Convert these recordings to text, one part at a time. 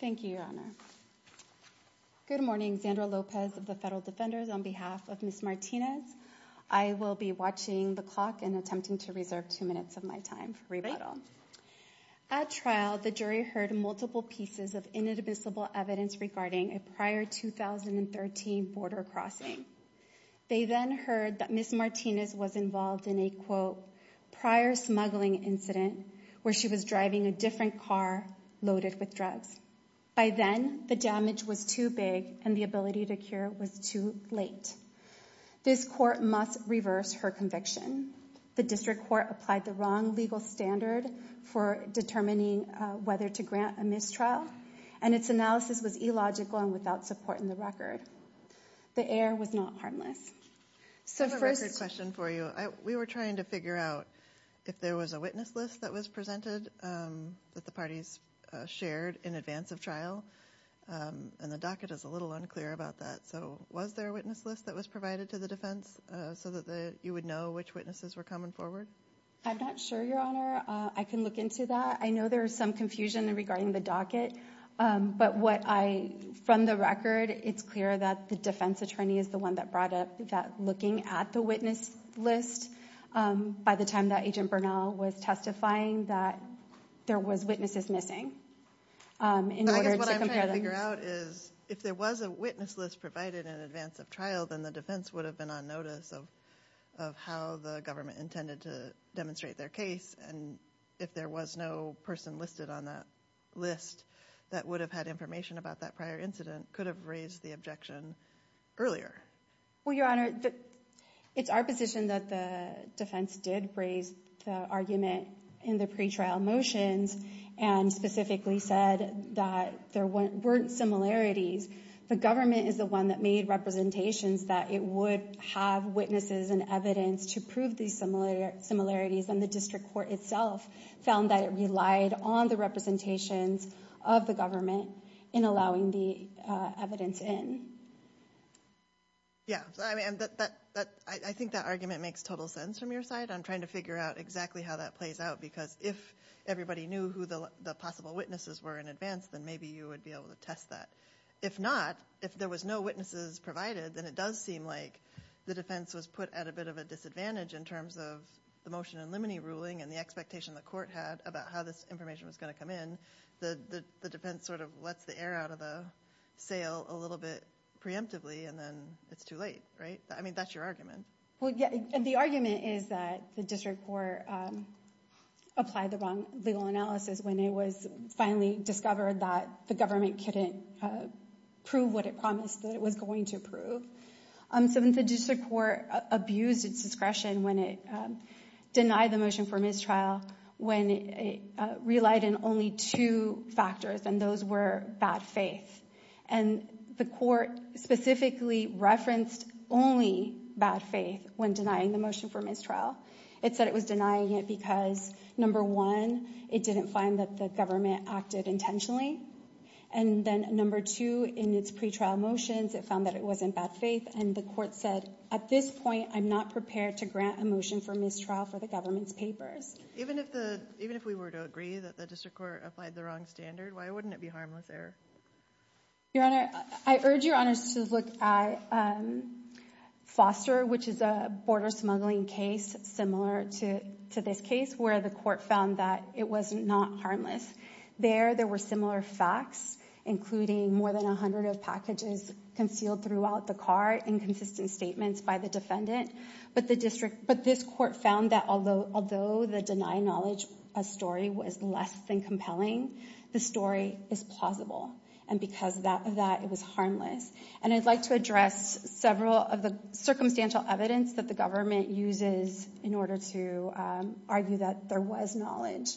Thank you, Your Honor. Good morning, Zandra Lopez of the Federal Defenders. On behalf of Ms. Martinez, I will be watching the clock and attempting to reserve two minutes of my time for rebuttal. At trial, the jury heard multiple pieces of inadmissible evidence regarding a prior 2013 border crossing. They then heard that Ms. Martinez was involved in a, quote, where she was driving a different car loaded with drugs. By then, the damage was too big and the ability to cure was too late. This court must reverse her conviction. The district court applied the wrong legal standard for determining whether to grant a mistrial, and its analysis was illogical and without support in the record. The heir was not harmless. So first… The witness list was presented that the parties shared in advance of trial, and the docket is a little unclear about that. So was there a witness list that was provided to the defense so that you would know which witnesses were coming forward? I'm not sure, Your Honor. I can look into that. I know there is some confusion regarding the docket, but what I, from the record, it's clear that the defense attorney is the one that brought up that looking at the witness list by the time that Agent Bernal was testifying that there was witnesses missing, um, in order to compare them. I guess what I'm trying to figure out is, if there was a witness list provided in advance of trial, then the defense would have been on notice of how the government intended to demonstrate their case, and if there was no person listed on that list that would have had information about that prior incident, could have raised the objection earlier. Well, Your Honor, it's our position that the defense did raise the argument in the pretrial motions, and specifically said that there weren't similarities. The government is the one that made representations that it would have witnesses and evidence to prove these similarities, and the district court itself found that it relied on the representations of the government in allowing the evidence in. Yeah, I mean, I think that argument makes total sense from your side. I'm trying to figure out exactly how that plays out, because if everybody knew who the possible witnesses were in advance, then maybe you would be able to test that. If not, if there was no witnesses provided, then it does seem like the defense was put at a bit of a disadvantage in terms of the motion in limine ruling and the expectation the court had about how this information was going to come in. The defense sort of lets the air out of the sail a little bit preemptively, and then it's too late, right? I mean, that's your argument. The argument is that the district court applied the wrong legal analysis when it was finally discovered that the government couldn't prove what it promised that it was going to prove. Since the district court abused its discretion when it denied the motion for mistrial, when it relied in only two factors, and those were bad faith. And the court specifically referenced only bad faith when denying the motion for mistrial. It said it was denying it because, number one, it didn't find that the government acted intentionally. And then, number two, in its pretrial motions, it found that it was in bad faith, and the court said, at this point, I'm not prepared to grant a motion for mistrial for the government's papers. Even if we were to agree that the district court applied the wrong standard, why wouldn't it be harmless error? Your Honor, I urge Your Honors to look at Foster, which is a border smuggling case similar to this case, where the court found that it was not harmless. There, there were similar facts, including more than 100 packages concealed throughout the cart and consistent statements by the defendant. But the district, but this court found that although, although the deny knowledge story was less than compelling, the story is plausible. And because of that, it was harmless. And I'd like to address several of the circumstantial evidence that the government uses in order to argue that there was knowledge.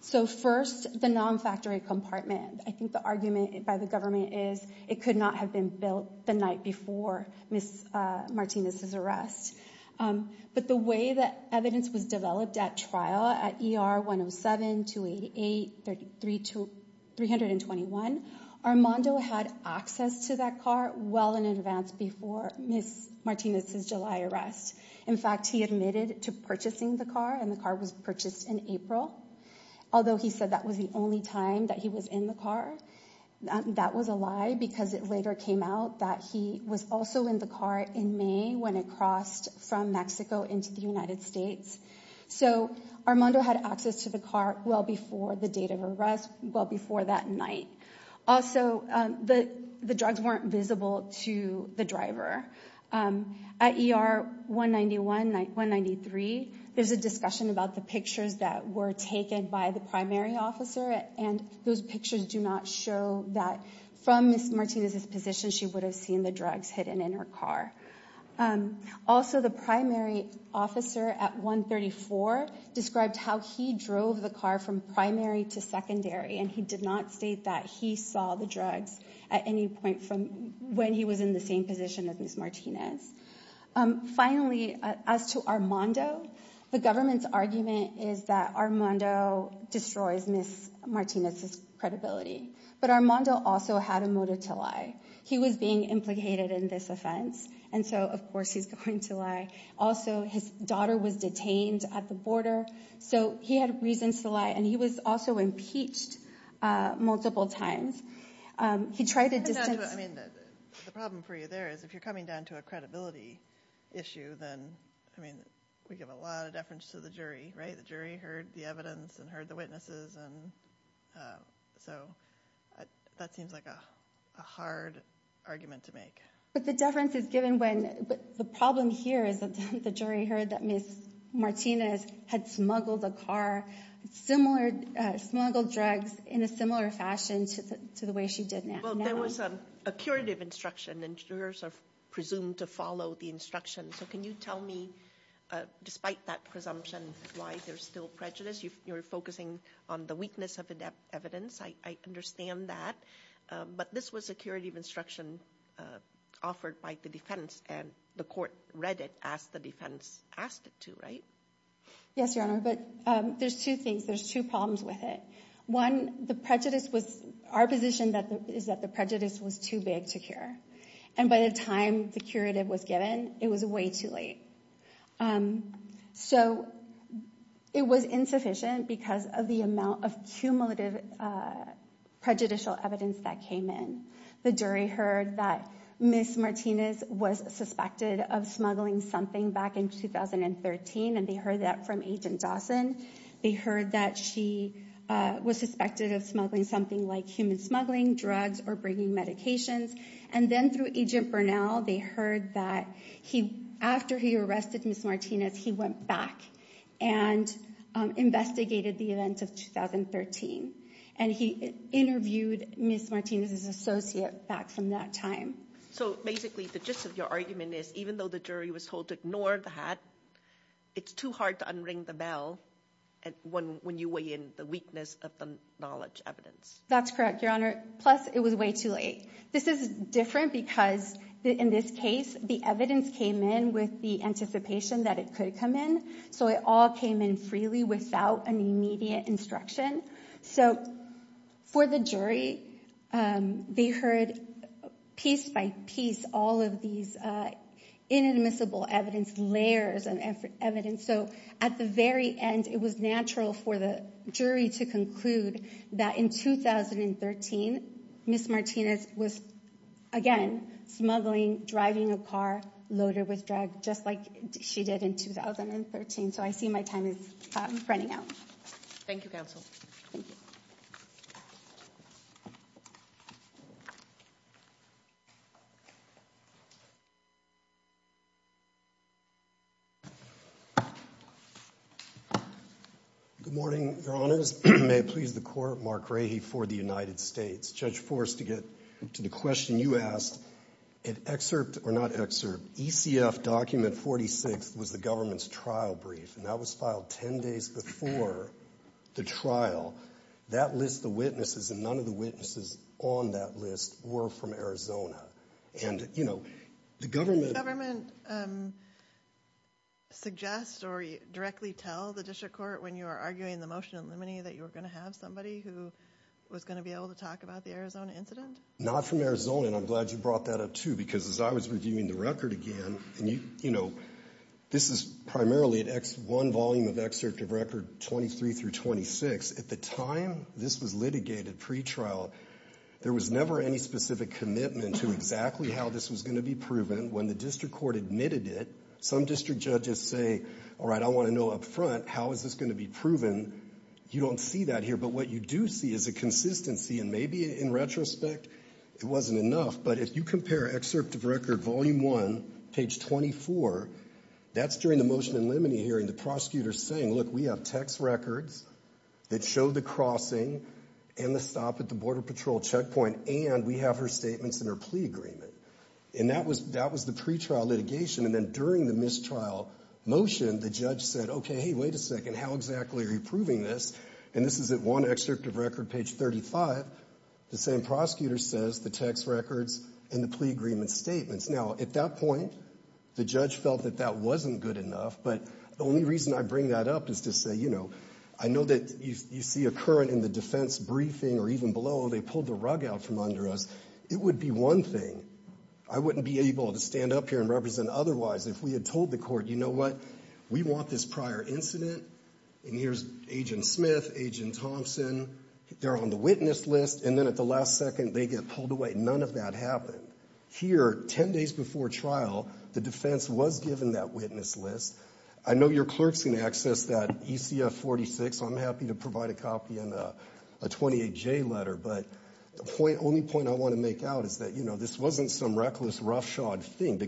So first, the non-factory compartment. I think the argument by the government is it could not have been built the night before Ms. Martinez's arrest. But the way that evidence was developed at trial, at ER 107, 288, 321, Armando had access to that car well in advance before Ms. Martinez's July arrest. In fact, he admitted to purchasing the car, and the car was purchased in April. Although he said that was the only time that he was in the car, that was a lie because it later came out that he was also in the car in May when it crossed from Mexico into the United States. So Armando had access to the car well before the date of arrest, well before that night. Also, the drugs weren't visible to the driver. At ER 191, 193, there's a discussion about the pictures that were taken by the primary officer, and those pictures do not show that from Ms. Martinez's position she would have seen the drugs hidden in her car. Also, the primary officer at 134 described how he drove the car from primary to secondary, and he did not state that he saw the drugs at any point from when he was in the same position as Ms. Martinez. Finally, as to Armando, the government's argument is that Armando destroys Ms. Martinez's credibility, but Armando also had a motive to lie. He was being implicated in this offense, and so of course he's going to lie. Also, his daughter was detained at the border, so he had reasons to lie, and he was also impeached multiple times. He tried to distance... I mean, the problem for you there is if you're coming down to a credibility issue, then I mean, we give a lot of deference to the jury, right? The jury heard the evidence and heard the witnesses, and so that seems like a hard argument to make. But the deference is given when, the problem here is that the jury heard that Ms. Martinez had smuggled a car, similar, smuggled drugs in a similar fashion to the way she did now. Well, there was a curative instruction, and jurors are presumed to follow the instruction, so can you tell me, despite that presumption, why there's still prejudice? You're focusing on the weakness of evidence, I understand that, but this was a curative instruction offered by the defense, and the court read it as the defense asked it to, right? Yes, Your Honor, but there's two things, there's two problems with it. One, the prejudice was our position is that the prejudice was too big to cure, and by the time the curative was given, it was way too late. So, it was insufficient because of the amount of cumulative prejudicial evidence that came in. The jury heard that Ms. Martinez was suspected of smuggling something back in 2013, and they heard that from Agent Dawson. They heard that she was suspected of smuggling something like human smuggling, drugs, or bringing medications, and then through Agent Burnell, they heard that after he arrested Ms. Martinez, he went back and investigated the events of 2013, and he interviewed Ms. Martinez's associate back from that time. So basically, the gist of your argument is, even though the jury was told to ignore that, it's too hard to unring the bell when you weigh in the weakness of the knowledge evidence. That's correct, Your Honor, plus it was way too late. This is different because in this case, the evidence came in with the anticipation that it could come in, so it all came in freely without any immediate instruction. So, for the jury, they heard piece by piece all of these inadmissible evidence, layers of evidence. So, at the very end, it was natural for the jury to conclude that in 2013, Ms. Martinez was, again, smuggling, driving a car loaded with drugs, just like she did in 2013. So I see my time is running out. Thank you, counsel. Good morning, Your Honors. May it please the Court, Mark Rahe for the United States. Judge Forst, to get to the question you asked, an excerpt, or not excerpt, ECF Document 46 was the government's trial brief, and that was filed 10 days before the trial. That list of witnesses, and none of the witnesses on that list were from Arizona. And, you know, the government... Did the government suggest or directly tell the district court when you were arguing the motion in limine that you were going to have somebody who was going to be able to talk about the Arizona incident? Not from Arizona, and I'm glad you brought that up, too, because as I was reviewing the record again, and, you know, this is primarily one volume of excerpt of record 23 through 26. At the time this was litigated pretrial, there was never any specific commitment to exactly how this was going to be proven. When the district court admitted it, some district judges say, all right, I want to know up front how is this going to be proven. You don't see that here, but what you do see is a consistency, and maybe in retrospect it wasn't enough. But if you compare excerpt of record volume one, page 24, that's during the motion in limine hearing, the prosecutor saying, look, we have text records that show the crossing and the stop at the border patrol checkpoint, and we have her statements and her plea agreement. And that was the pretrial litigation, and then during the mistrial motion, the judge said, okay, hey, wait a second, how exactly are you proving this? And this is at one excerpt of record, page 35, the same prosecutor says the text records and the plea agreement statements. Now, at that point, the judge felt that that wasn't good enough, but the only reason I bring that up is to say, you know, I know that you see a current in the defense briefing or even below, they pulled the rug out from under us. It would be one thing. I wouldn't be able to stand up here and represent otherwise if we had told the court, you know what, we want this prior incident, and here's Agent Smith, Agent Thompson, they're on the witness list, and then at the last second, they get pulled away. None of that happened. Here, ten days before trial, the defense was given that witness list. I know your clerk's going to access that ECF 46, so I'm happy to provide a copy and a 28J letter, but the only point I want to make out is that, you know, this wasn't some reckless roughshod thing. The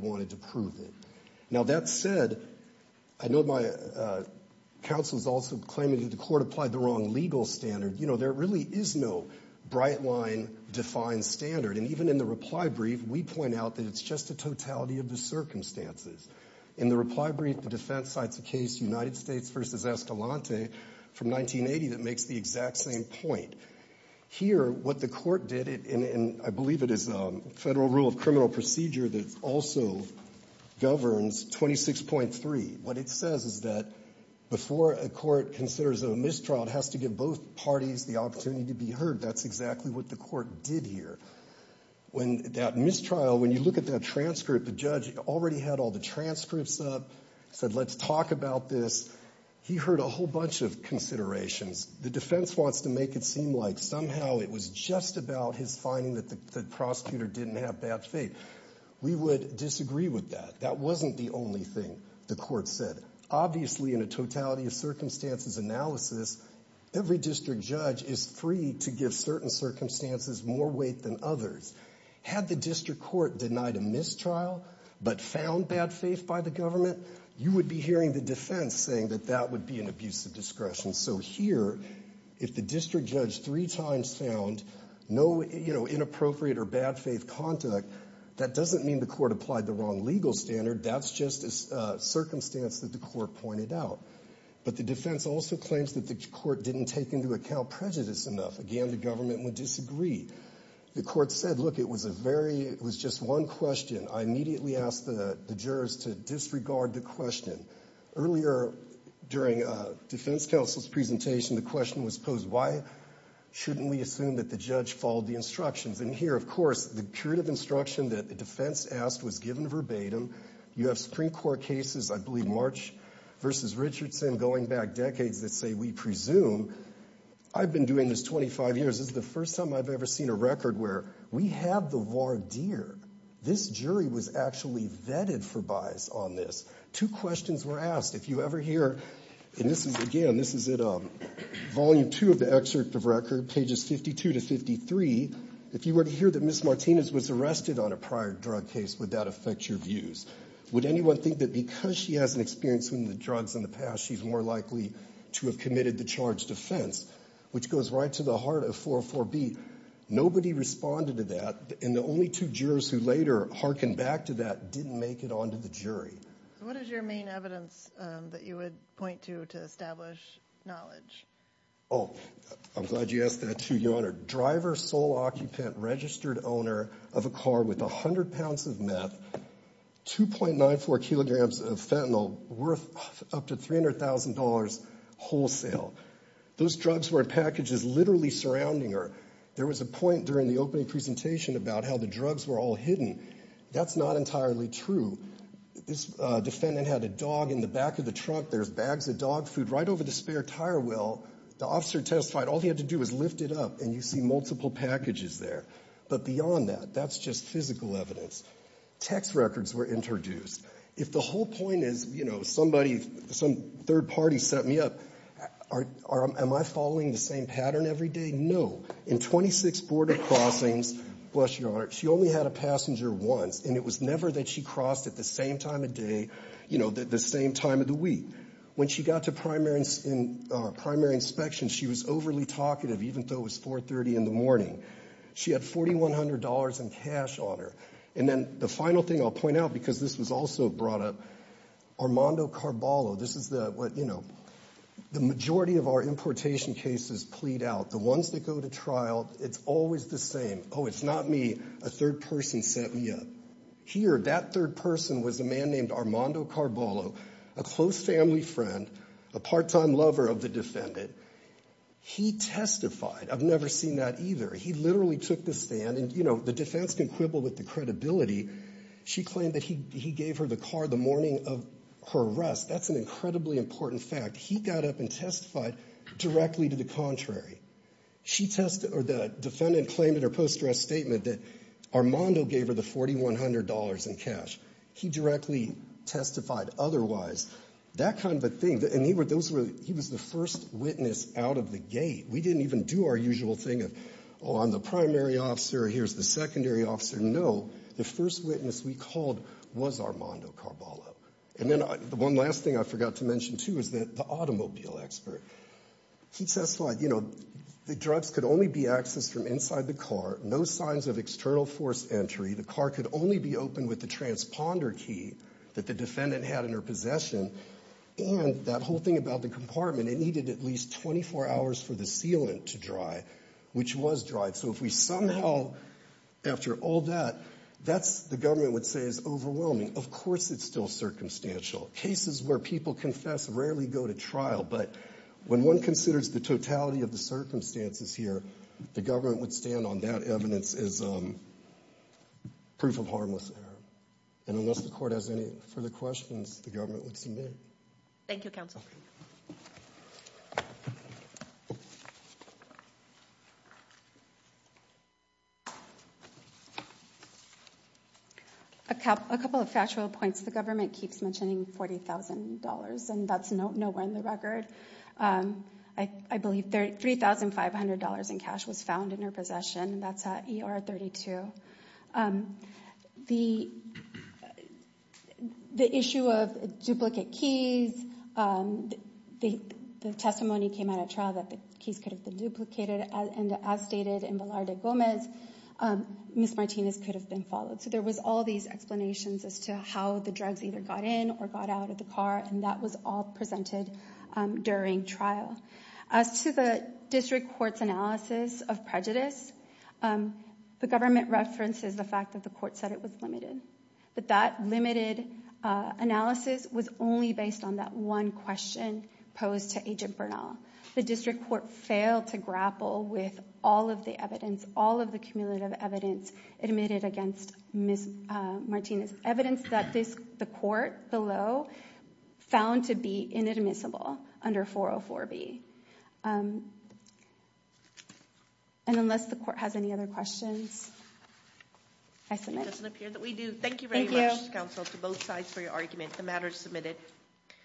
wanted to prove it. Now, that said, I know my counsel is also claiming that the court applied the wrong legal standard. You know, there really is no bright line defined standard, and even in the reply brief, we point out that it's just a totality of the circumstances. In the reply brief, the defense cites a case, United States v. Escalante, from 1980, that makes the exact same point. Here, what the court did, and I believe it is federal rule of criminal procedure that also governs 26.3, what it says is that before a court considers a mistrial, it has to give both parties the opportunity to be heard. That's exactly what the court did here. When that mistrial, when you look at that transcript, the judge already had all the transcripts up, said let's talk about this. He heard a whole bunch of considerations. The defense wants to make it seem like somehow it was just about his finding that the prosecutor didn't have bad faith. We would disagree with that. That wasn't the only thing the court said. Obviously, in a totality of circumstances analysis, every district judge is free to give certain circumstances more weight than others. Had the district court denied a mistrial but found bad faith by the government, you would be hearing the defense saying that that would be an abuse of discretion. So here, if the district judge three times found no, you know, inappropriate or bad faith contact, that doesn't mean the court applied the wrong legal standard. That's just a circumstance that the court pointed out. But the defense also claims that the court didn't take into account prejudice enough. Again, the government would disagree. The court said, look, it was a very, it was just one question. I immediately asked the jurors to disregard the question. Earlier during defense counsel's presentation, the question was posed, why shouldn't we assume that the judge followed the instructions? And here, of course, the curative instruction that the defense asked was given verbatim. You have Supreme Court cases, I believe March v. Richardson, going back decades that say we presume. I've been doing this 25 years. This is the first time I've ever seen a record where we have the voir dire. This jury was actually vetted for bias on this. Two questions were asked. If you ever hear, and this is, again, this is at volume two of the excerpt of record, pages 52 to 53, if you were to hear that Ms. Martinez was arrested on a prior drug case, would that affect your views? Would anyone think that because she hasn't experienced one of the drugs in the past, she's more likely to have committed the charged offense, which goes right to the heart of 404B? Nobody responded to that, and the only two jurors who later hearkened back to that didn't make it on to the jury. What is your main evidence that you would point to to establish knowledge? Oh, I'm glad you asked that, too, Your Honor. Driver, sole occupant, registered owner of a car with 100 pounds of meth, 2.94 kilograms of fentanyl worth up to $300,000 wholesale. Those drugs were in packages literally surrounding her. There was a point during the opening presentation about how the drugs were all hidden. That's not entirely true. This defendant had a dog in the back of the truck. There's bags of dog food right over the spare tire well. The officer testified all he had to do was lift it up, and you see multiple packages there. But beyond that, that's just physical evidence. Text records were introduced. If the whole point is, you know, somebody, some third party set me up, am I following the same pattern every day? No. In 26 border crossings, bless your heart, she only had a passenger once, and it was never that she crossed at the same time of day, you know, the same time of the week. When she got to primary inspection, she was overly talkative even though it was 4.30 in the morning. She had $4,100 in cash on her. And then the final thing I'll point out, because this was also brought up, Armando Carballo, this is the, what, you know, the majority of our importation cases plead out. The ones that go to trial, it's always the same. Oh, it's not me. A third person set me up. Here, that third person was a man named Armando Carballo, a close family friend, a part-time lover of the defendant. He testified. I've never seen that either. He literally took the stand, and, you know, the defense can quibble with the credibility. She claimed that he gave her the car the morning of her arrest. That's an incredibly important fact. He got up and testified directly to the contrary. She testified, or the defendant claimed in her post-dress statement that Armando gave her the $4,100 in cash. He directly testified otherwise. That kind of a thing, and he was the first witness out of the gate. We didn't even do our usual thing of, oh, I'm the primary officer, here's the secondary officer. No. The first witness we called was Armando Carballo. And then the one last thing I forgot to mention, too, is that the automobile expert. He testified, you know, the drugs could only be accessed from inside the car. No signs of external force entry. The car could only be opened with the transponder key that the defendant had in her possession. And that whole thing about the compartment, it needed at least 24 hours for the sealant to dry, which was dry. So if we somehow, after all that, that's, the government would say is overwhelming. Of course it's still circumstantial. Cases where people confess rarely go to trial, but when one considers the totality of the circumstances here, the government would stand on that evidence as proof of harmless error. And unless the court has any further questions, the government would submit. Thank you, counsel. A couple of factual points. The government keeps mentioning $40,000, and that's nowhere in the record. I believe $3,500 in cash was found in her duplicate keys. The testimony came out at trial that the keys could have been duplicated, and as stated in Velarde Gomez, Ms. Martinez could have been followed. So there was all these explanations as to how the drugs either got in or got out of the car, and that was all presented during trial. As to the district court's analysis of prejudice, the government references the fact that the court said it was limited. But that limited analysis was only based on that one question posed to Agent Bernal. The district court failed to grapple with all of the evidence, all of the cumulative evidence admitted against Ms. Martinez. Evidence that the court below found to be inadmissible under 404B. And unless the court has any other questions, I submit. It doesn't appear that we do. Thank you very much, counsel, to both sides for your argument. The matter is submitted.